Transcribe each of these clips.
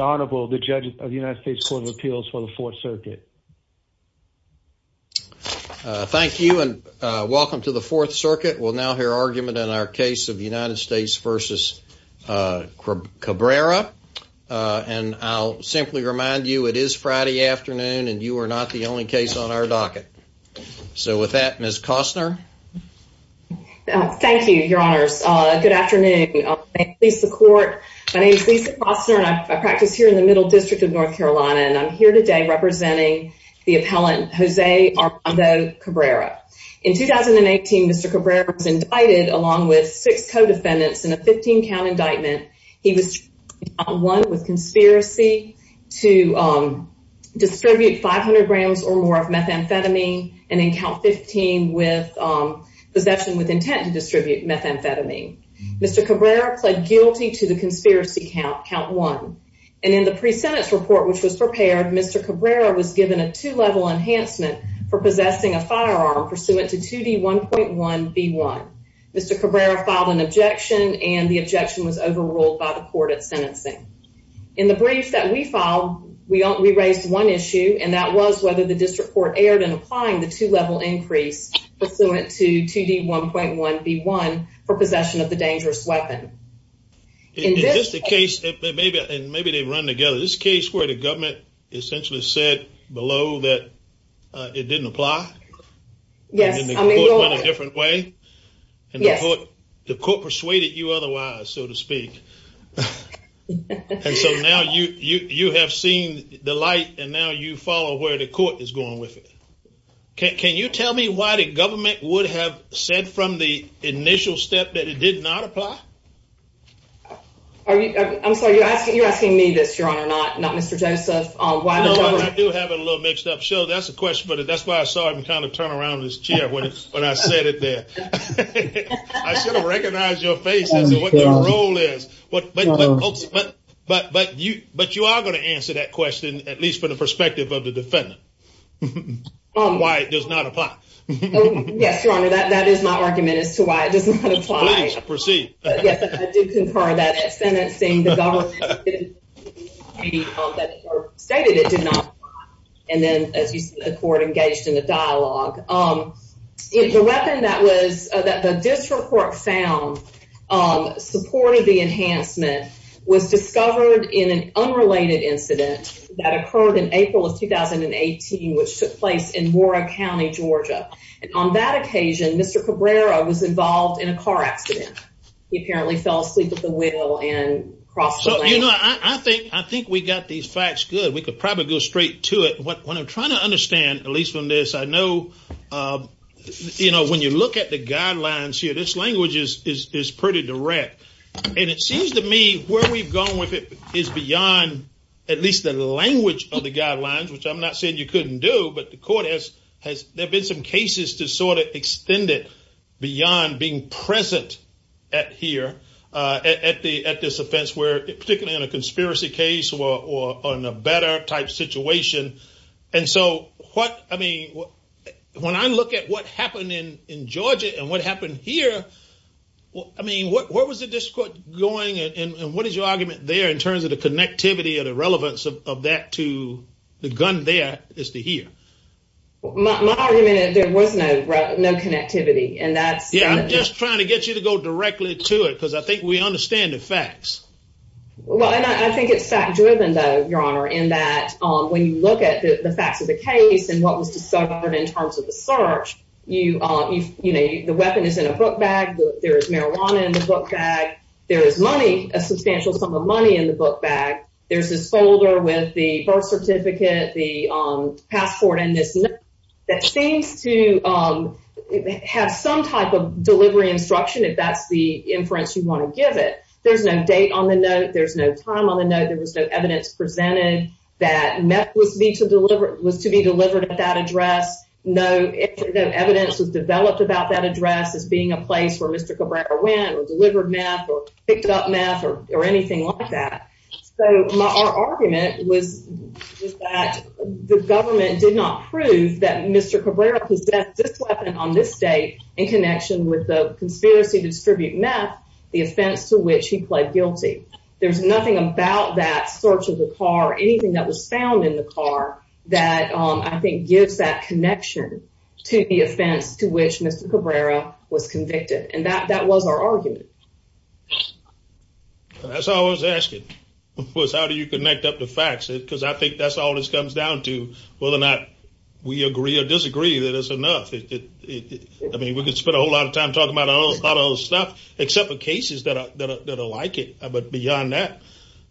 Honorable the judge of the United States Court of Appeals for the Fourth Circuit. Thank you and welcome to the Fourth Circuit. We'll now hear argument in our case of United States v. Cabrera and I'll simply remind you it is Friday afternoon and you are not the only case on our docket. So with that, Ms. Costner. Thank you, your honors. Good afternoon. My name is Lisa Costner and I practice here in the Middle District of North Carolina and I'm here today representing the appellant Jose Armando Cabrera. In 2018, Mr. Cabrera was indicted along with six co-defendants in a 15 count indictment. He was charged with conspiracy to distribute 500 grams or more of methamphetamine and in count 15 with possession with intent to distribute methamphetamine. Mr. Cabrera pled guilty to the conspiracy count count one and in the pre-sentence report which was prepared, Mr. Cabrera was given a two-level enhancement for possessing a firearm pursuant to 2D1.1B1. Mr. Cabrera filed an objection and the objection was overruled by the court at sentencing. In the brief that we filed, we raised one issue and that was whether the district court erred in applying the two-level increase pursuant to 2D1.1B1 for possession of the dangerous weapon. Is this the case, and maybe they run together, this case where the government essentially said below that it didn't apply? Yes. And then the court went a different way? Yes. And the court persuaded you otherwise, so to speak. And so now you have seen the light and now you follow where the court is going with it? Can you tell me why the government would have said from the initial step that it did not apply? I'm sorry, you're asking me this, your honor, not Mr. Joseph. I do have it a little mixed up. So that's the question, but that's why I saw him kind of turn around in his chair when I said it there. I should have recognized your faces and what the role is. But you are going to answer that question, at least from the perspective of the defendant. And why it does not apply. Yes, your honor, that is my argument as to why it does not apply. Please proceed. Yes, I did concur that at sentencing the government stated it did not apply. And then, as you see, the court engaged in a dialogue. The weapon that the district court found supported the enhancement was discovered in an unrelated incident that occurred in April of 2018, which took place in Warrick County, Georgia. And on that occasion, Mr. Cabrera was involved in a car accident. He apparently fell asleep at the wheel and crossed the lane. I think we got these facts good. We could probably go straight to it. What I'm trying to understand, at least from this, I know when you look at the guidelines here, this language is pretty direct. And it seems to me where we've gone with it is beyond at least the language of the guidelines, which I'm not saying you couldn't do, but the court has, there have been some cases to sort of extend it beyond being present at here, at this offense, particularly in a conspiracy case or in a better type situation. And so what, I mean, when I look at what happened in Georgia and what happened here, I mean, what was the district going and what is your argument there in terms of the connectivity or the relevance of that to the gun there is to here? My argument is there was no connectivity. And that's, yeah, I'm just trying to get you to go directly to it because I think we understand the facts. Well, and I think it's fact driven though, your honor, in that when you look at the facts of the case and what was discovered in terms of the search, you, you know, the weapon is in a book bag. There is marijuana in the book bag. There is money, a substantial sum of money in the book bag. There's this folder with the birth certificate, the passport, and this note that seems to have some type of delivery instruction, if that's the inference you want to give it. There's no date on the note. There's no time on the note. There was no evidence presented that meth was to be delivered at that address. No evidence was developed about that address as being a place where Mr. Cabrera went or delivered meth or picked up meth or anything like that. So my argument was that the government did not prove that Mr. Cabrera possessed this weapon on this date in connection with the conspiracy to distribute meth, the offense to which he pled guilty. There's nothing about that search of the car, anything that was found in the car, that I think gives that connection to the offense to which Mr. Cabrera was convicted. And that was our argument. That's all I was asking, was how do you connect up the facts? Because I think that's all this comes down to, whether or not we agree or disagree that it's enough. I mean, we could spend a whole lot of time talking about a lot of other stuff, except for cases that are like it. But beyond that,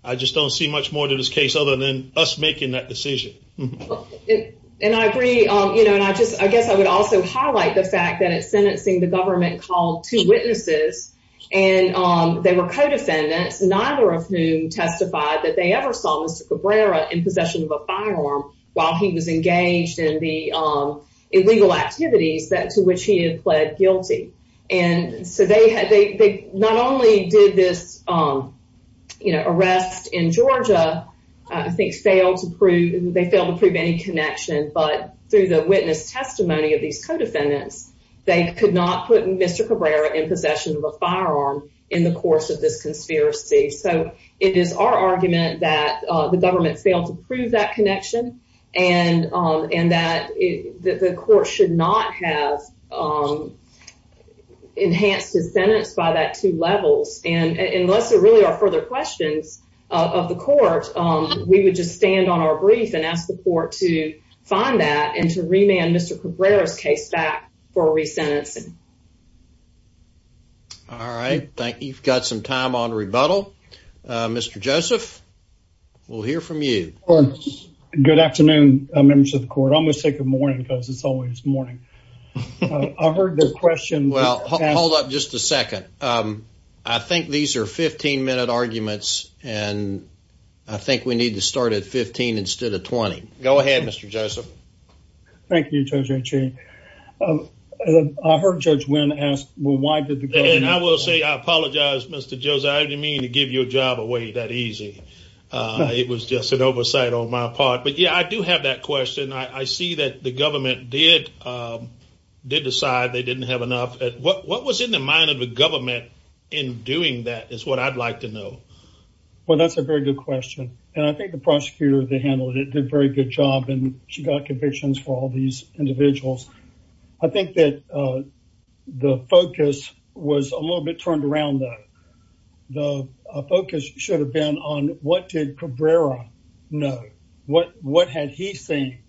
I just don't see much more to this case other than us making that decision. And I agree. You know, and I just I guess I would also highlight the fact that it's sentencing the government called to witnesses. And they were co-defendants, neither of whom testified that they ever saw Mr. Cabrera in possession of a firearm while he was engaged in the illegal activities that to which he had pled guilty. And so they had they not only did this, you know, in Georgia, I think failed to prove they failed to prove any connection. But through the witness testimony of these co-defendants, they could not put Mr. Cabrera in possession of a firearm in the course of this conspiracy. So it is our argument that the government failed to prove that connection and that the court should not have enhanced his sentence by that two levels. And unless there really are further questions of the court, we would just stand on our brief and ask the court to find that and to remand Mr. Cabrera's case back for resentencing. All right. Thank you. You've got some time on rebuttal. Mr. Joseph, we'll hear from you. Good afternoon, members of the court. I'm going to say good morning because it's always morning. I heard the question. Well, hold up just a second. I think these are 15 minute arguments and I think we need to start at 15 instead of 20. Go ahead, Mr. Joseph. Thank you, Judge Achebe. I heard Judge Wynn ask, well, why did the government- And I will say I apologize, Mr. Joseph. I didn't mean to give you a job away that easy. It was just an oversight on my part. But yeah, I do have that question. I see that the government did decide they didn't have enough. What was in the mind of the government in doing that is what I'd like to know. Well, that's a very good question. And I think the prosecutor that handled it did a very good job and she got convictions for all these individuals. I think that the focus was a little bit turned around though. The focus should have been on what did Cabrera know? What had he seen?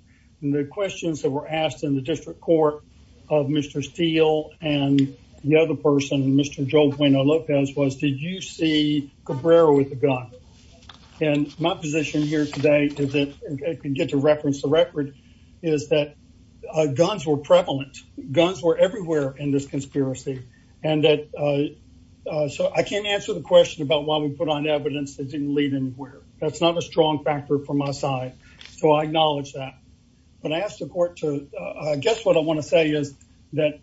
And the questions that were asked in the district court of Mr. Steele and the other person, Mr. Joel Bueno-Lopez, was did you see Cabrera with a gun? And my position here today, if I can get to reference the record, is that guns were prevalent. Guns were everywhere in this conspiracy. So I can't answer the question about why we put on evidence that didn't lead anywhere. That's not a strong factor from my side. So I acknowledge that. But I asked the court to, I guess what I want to say is that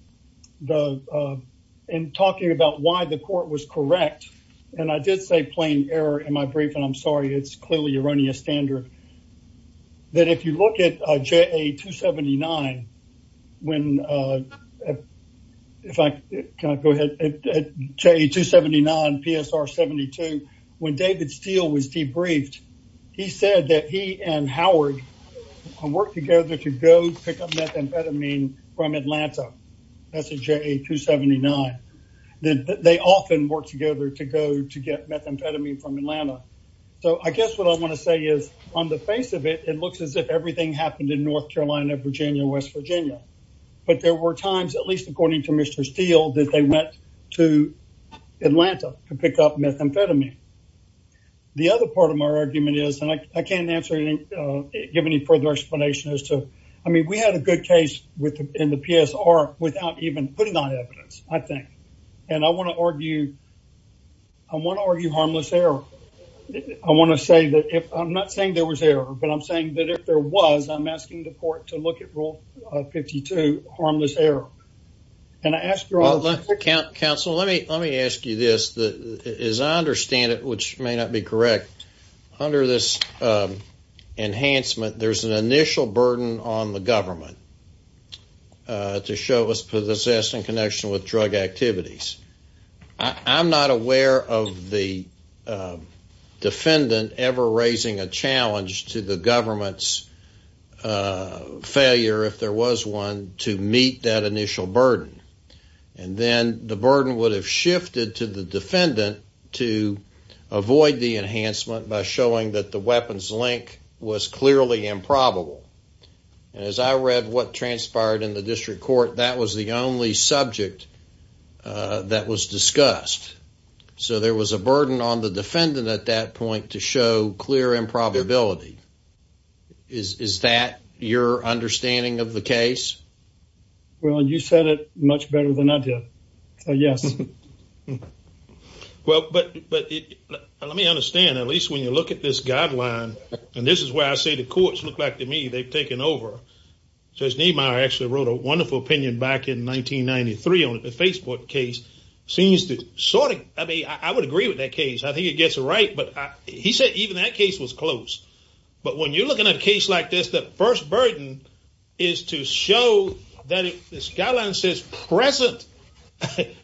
in talking about why the court was correct, and I did say plain error in my brief, and I'm sorry, it's clearly erroneous standard, that if you look at JA279, when, if I can go ahead, at JA279 PSR72, when David Steele was debriefed, he said that he and Howard worked together to go pick up methamphetamine from Atlanta. That's at JA279. They often worked together to go to get methamphetamine from Atlanta. So I guess what I face of it, it looks as if everything happened in North Carolina, Virginia, West Virginia. But there were times, at least according to Mr. Steele, that they went to Atlanta to pick up methamphetamine. The other part of my argument is, and I can't give any further explanation as to, I mean, we had a good case in the PSR without even putting on evidence, I think. And I want to argue But I'm saying that if there was, I'm asking the court to look at Rule 52, Harmless Error. And I asked your... Counsel, let me ask you this. As I understand it, which may not be correct, under this enhancement, there's an initial burden on the government to show us possessing connection with drug activities. I'm not aware of the to the government's failure, if there was one, to meet that initial burden. And then the burden would have shifted to the defendant to avoid the enhancement by showing that the weapons link was clearly improbable. And as I read what transpired in the district court, that was the only subject that was discussed. So there was a burden on the defendant at that point to show clear improbability. Is that your understanding of the case? Well, you said it much better than I did. So yes. Well, but let me understand, at least when you look at this guideline, and this is where I say the courts look back to me, they've taken over. Judge Niemeyer actually wrote a wonderful opinion back in 1993 on the Facebook case, seems to sort of, I mean, I would agree with that case. I think it gets it right, but he said even that case was close. But when you're looking at a case like this, the first burden is to show that if this guideline says present,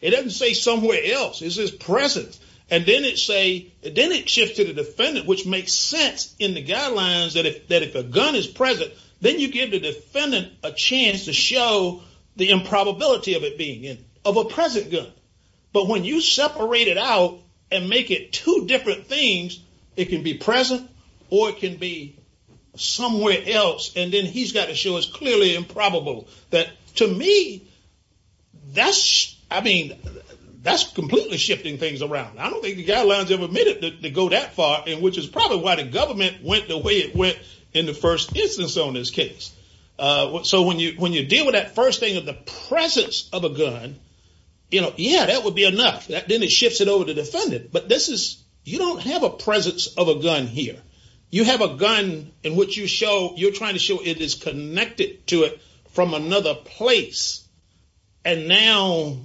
it doesn't say somewhere else, it says present. And then it say, then it shifts to the defendant, which makes sense in the guidelines that if a gun is present, then you give the defendant a chance to show the improbability of it being in, of a present gun. But when you separate it out and make it two different things, it can be present or it can be somewhere else. And then he's got to show us clearly improbable that to me, that's, I mean, that's completely shifting things around. I don't think the guidelines ever made it to go that far, and which is probably why the government went the way it in the first instance on this case. So when you deal with that first thing of the presence of a gun, yeah, that would be enough. Then it shifts it over to the defendant, but this is, you don't have a presence of a gun here. You have a gun in which you show, you're trying to show it is connected to it from another place. And now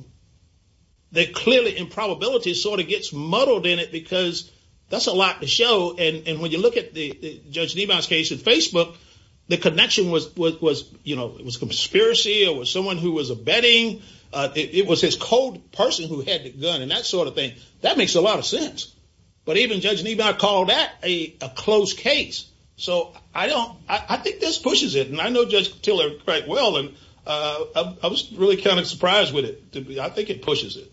the clearly improbability sort of gets muddled in it because that's a lot to show. And when you look at the Judge Niebauer's case in Facebook, the connection was, you know, it was conspiracy or it was someone who was abetting. It was his cold person who had the gun and that sort of thing. That makes a lot of sense. But even Judge Niebauer called that a close case. So I don't, I think this pushes it. And I know Judge Tiller quite well, and I was really kind of surprised with it. I think it pushes it.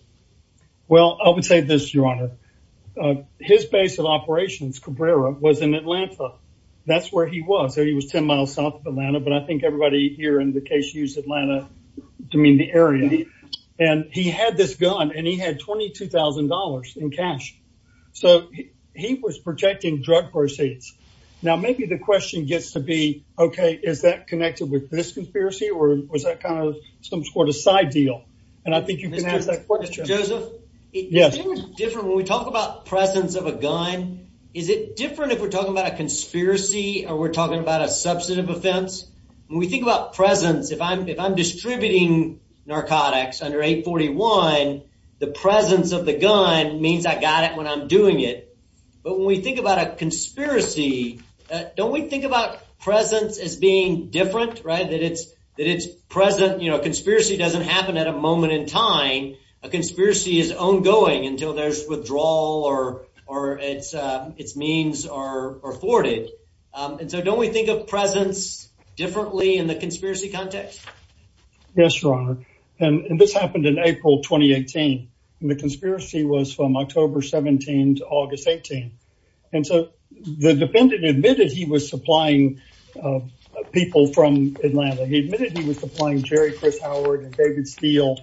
Well, I would say this, Your Honor. His base of operations, Cabrera, was in Atlanta. That's where he was. He was 10 miles south of Atlanta, but I think everybody here in the case used Atlanta to mean the area. And he had this gun and he had $22,000 in cash. So he was protecting drug proceeds. Now maybe the question gets to be, okay, is that connected with this conspiracy or was that kind of some sort of side deal? And I think you can ask that question. Mr. Joseph? Yes. Isn't it different when we talk about presence of a gun? Is it different if we're talking about a conspiracy or we're talking about a substantive offense? When we think about presence, if I'm distributing narcotics under 841, the presence of the gun means I got it when I'm doing it. But when we think about a conspiracy, don't we think about presence as being different, that it's present? A conspiracy doesn't happen at a moment in time. A conspiracy is ongoing until there's withdrawal or its means are thwarted. And so don't we think of presence differently in the conspiracy context? Yes, Your Honor. And this happened in April 2018. And the conspiracy was from October 17 to August 18. And so the defendant admitted he was supplying people from Atlanta. He admitted he was supplying Jerry Chris Howard and David Steele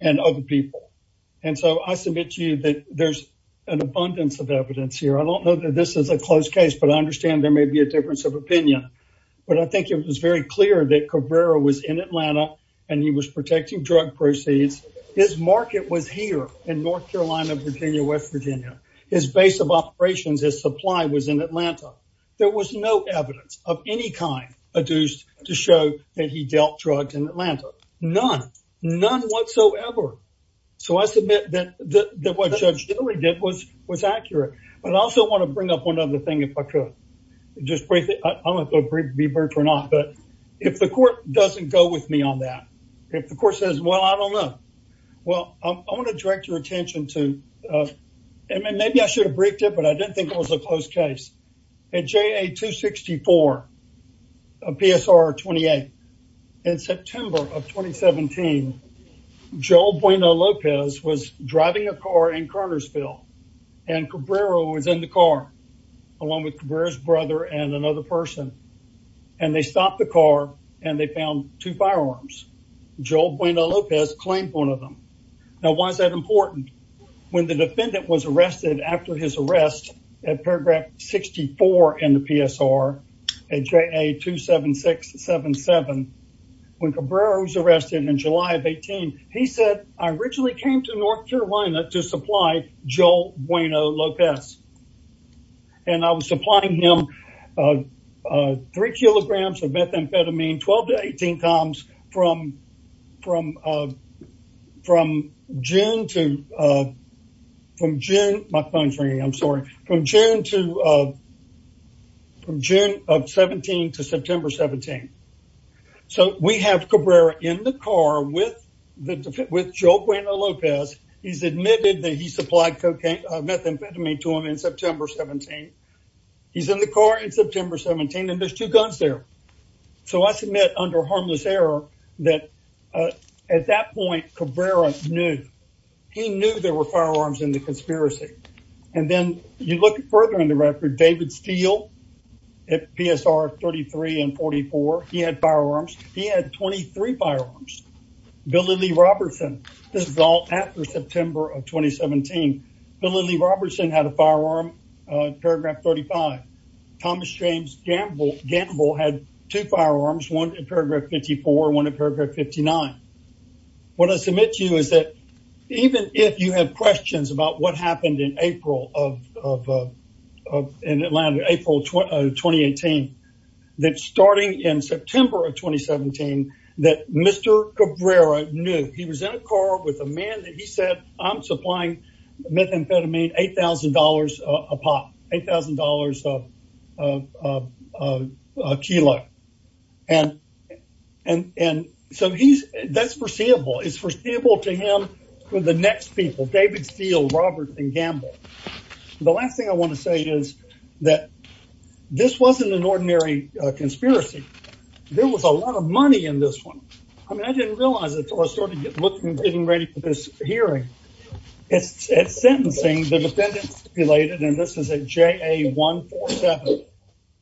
and other people. And so I submit to you that there's an abundance of evidence here. I don't know that this is a closed case, but I understand there may be a difference of opinion. But I think it was very clear that Cabrera was in Atlanta and he was protecting drug proceeds. His market was here in North Carolina, Virginia, West Virginia. His base of operations, his supply was in Atlanta. There was no evidence of any kind adduced to show that he dealt drugs in Atlanta. None, none whatsoever. So I submit that what Judge Dilley did was accurate. But I also want to bring up one other thing if I could. Just briefly, I don't know if I'll be briefed or not, but if the court doesn't go with me on that, if the court says, well, I don't know. Well, I want to direct your attention to, and maybe I should have briefed it, but I didn't think it was a closed case. At JA 264, PSR 28, in September of 2017, Joel Bueno Lopez was driving a car in Cartersville and Cabrera was in the car, along with Cabrera's brother and another person. And they stopped the car and they found two firearms. Joel Bueno Lopez claimed one of them. Now, why is that important? When the defendant was arrested after his arrest at paragraph 64 in the PSR, at JA 276-77, when Cabrera was arrested in July of 18, he said, I originally came to North Carolina to supply Joel Bueno Lopez. And I was supplying him three kilograms of methamphetamine, 12 to 18 coms, from June to, from June, my phone's ringing, I'm sorry, from June to, from June of 17 to September 17. So, we have Cabrera in the car with Joel Bueno Lopez. He's admitted that he supplied cocaine, methamphetamine to him in September 17. He's in the car in September 17, and there's two guns there. So, I submit under harmless error that at that point Cabrera knew, he knew there were firearms in the conspiracy. And then you look further in the record, David Steele at PSR 33 and 44, he had firearms. He had 23 firearms. Billy Lee Robertson, this is all after September of 2017. Billy Lee Robertson had a firearm, paragraph 35. Thomas James Gamble had two firearms, one at paragraph 54, one at paragraph 59. What I submit to you is that even if you have questions about what happened in April of, in Atlanta, April 2018, that starting in September of 2017, that Mr. Cabrera knew. He was in a car with a man that he said, I'm supplying methamphetamine, $8,000 a pop, $8,000 a kilo. And, and, and so he's, that's foreseeable. It's foreseeable to him for the next people, David Steele, Robertson, Gamble. The last thing I want to say is that this wasn't an ordinary conspiracy. There was a lot of money in this one. I mean, I didn't realize it until I started getting ready for this hearing. At sentencing, the defendant stipulated, and this is at JA 147.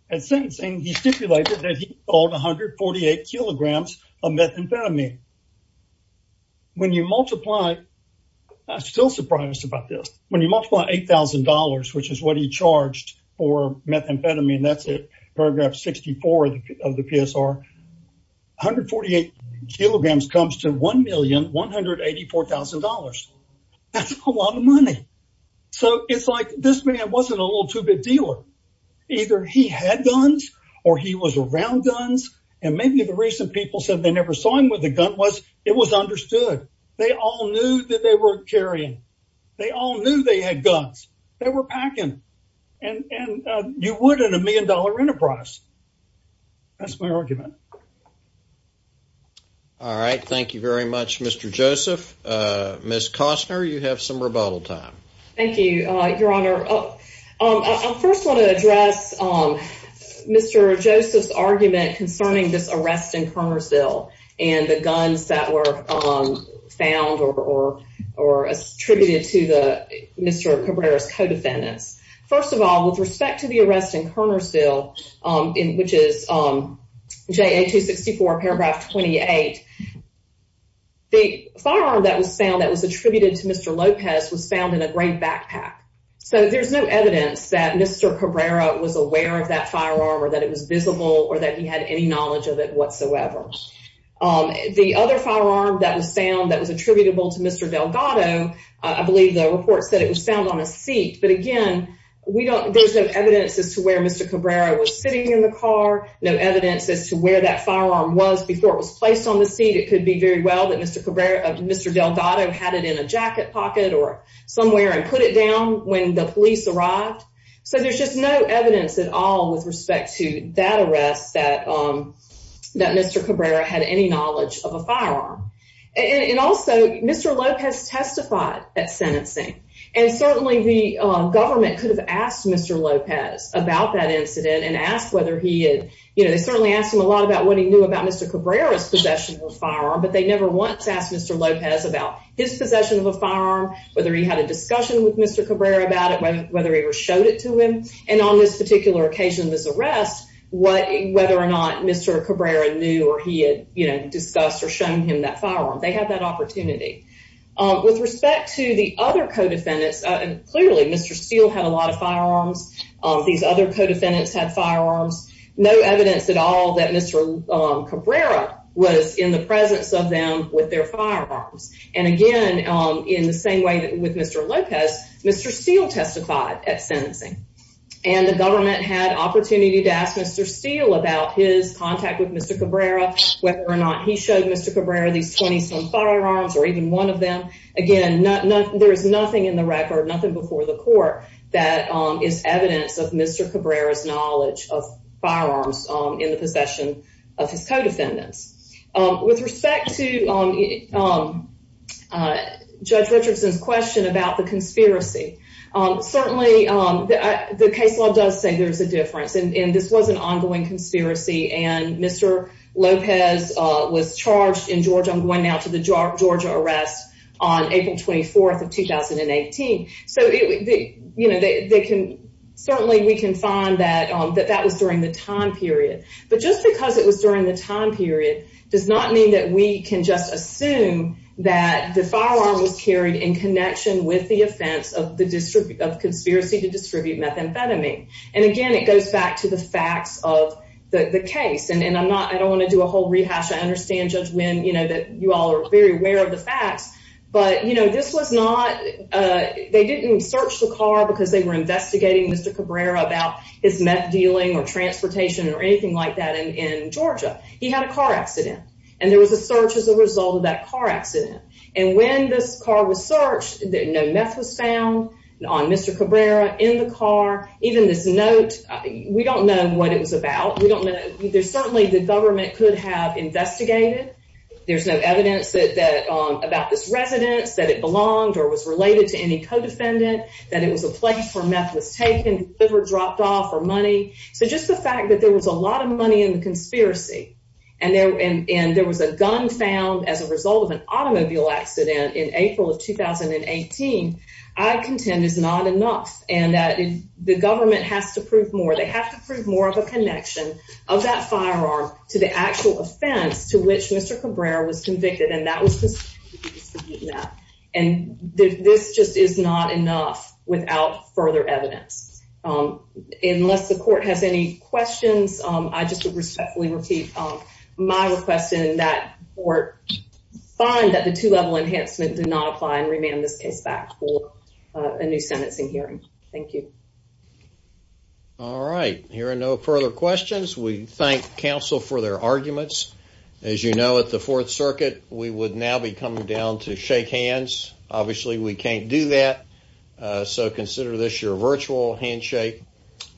At sentencing, he stipulated that he sold 148 kilograms of methamphetamine. When you multiply, I'm still surprised about this. When you multiply $8,000, which is what he charged for methamphetamine, that's paragraph 64 of the PSR, 148 kilograms comes to $1,184,000. That's a lot of money. So it's like this man wasn't a little too big dealer. Either he had guns or he was around guns. And maybe the reason people said they never saw him with a gun was it was understood. They all knew that they were carrying, they all knew they had guns. They were packing. And you would in a million-dollar enterprise. That's my argument. All right. Thank you very much, Mr. Joseph. Ms. Costner, you have some rebuttal time. Thank you, Your Honor. I first want to address Mr. Joseph's argument concerning this arrest in Kernersville and the guns that were found or attributed to Mr. Cabrera's co-defendants. First of all, with respect to the arrest in Kernersville, which is JA 264, paragraph 28, the firearm that was found that was attributed to Mr. Lopez was found in a gray backpack. So there's no evidence that Mr. Cabrera was aware of that firearm or that it was visible or that he had any knowledge of it whatsoever. The other firearm that was found that was attributable to Mr. Delgado, I believe the report said it was found on a seat. But again, there's no evidence as to where Mr. Cabrera was sitting in the car, no evidence as to where that firearm was before it was placed on the seat. It could be very well that Mr. Delgado had it in a jacket pocket or somewhere and put it down when the police arrived. So there's just no evidence at all with respect to that arrest that Mr. Cabrera had any knowledge of a firearm. And also, Mr. Lopez testified at sentencing. And certainly the government could have asked Mr. Lopez about that incident and asked whether he had, you know, they certainly asked him a lot about what he knew about Mr. Cabrera's possession of a firearm, but they never once asked Mr. Lopez about his possession of a firearm, whether he had a discussion with And on this particular occasion, this arrest, whether or not Mr. Cabrera knew or he had, you know, discussed or shown him that firearm, they had that opportunity. With respect to the other co-defendants, clearly Mr. Steele had a lot of firearms, these other co-defendants had firearms, no evidence at all that Mr. Cabrera was in the presence of them with their firearms. And again, in the same way that with Mr. Lopez, Mr. Steele testified at sentencing. And the government had opportunity to ask Mr. Steele about his contact with Mr. Cabrera, whether or not he showed Mr. Cabrera these 20-some firearms or even one of them. Again, there is nothing in the record, nothing before the court that is evidence of Mr. Cabrera's knowledge of firearms in the possession of his co-defendants. With respect to Judge Richardson's question about the conspiracy, certainly the case law does say there's a difference and this was an ongoing conspiracy and Mr. Lopez was charged in Georgia, I'm going now to the Georgia arrest on April 24th of 2018. So, you know, they can, certainly we can find that that was during the time period. But just because it was during the time period does not mean that we can just assume that the firearm was carried in connection with the offense of the distribute of conspiracy to distribute methamphetamine. And again, it goes back to the facts of the case. And I'm not, I don't want to do a whole rehash. I understand Judge Wynn, you know, that you all are very aware of the facts. But, you know, this was not, they didn't search the car because they were investigating Mr. Cabrera about his meth dealing or transportation or anything like that in Georgia. He had a car accident and there was a search as a result of that car accident. And when this car was searched, no meth was found on Mr. Cabrera in the car. Even this note, we don't know what it was about. We don't know. There's certainly the government could have investigated. There's no evidence that, about this residence, that it belonged or was related to any co-defendant, that it was a place where meth was taken, liver dropped off, or money. So just the fact that there was a lot of money in the conspiracy, and there was a gun found as a result of an automobile accident in April of 2018, I contend is not enough. And that the government has to prove more. They have to prove more of a connection of that firearm to the actual offense to which Mr. Cabrera was convicted. And that was the case. And this just is not enough without further evidence. Unless the court has any questions, I just respectfully repeat my request that the court find that the two-level enhancement did not apply and remand this case back for a new sentencing hearing. Thank you. All right. Hearing no further questions, we thank counsel for their arguments. As you know, at the Fourth Circuit, we would now be coming down to shake hands. Obviously, we can't do that. So consider this your virtual handshake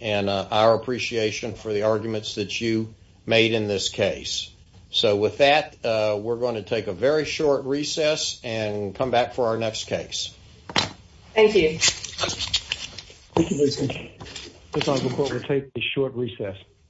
and our appreciation for the arguments that you made in this case. So with that, we're going to take a very short recess and come back for our next case. Thank you. Thank you, Mr. Chief. This is the court to take a short recess.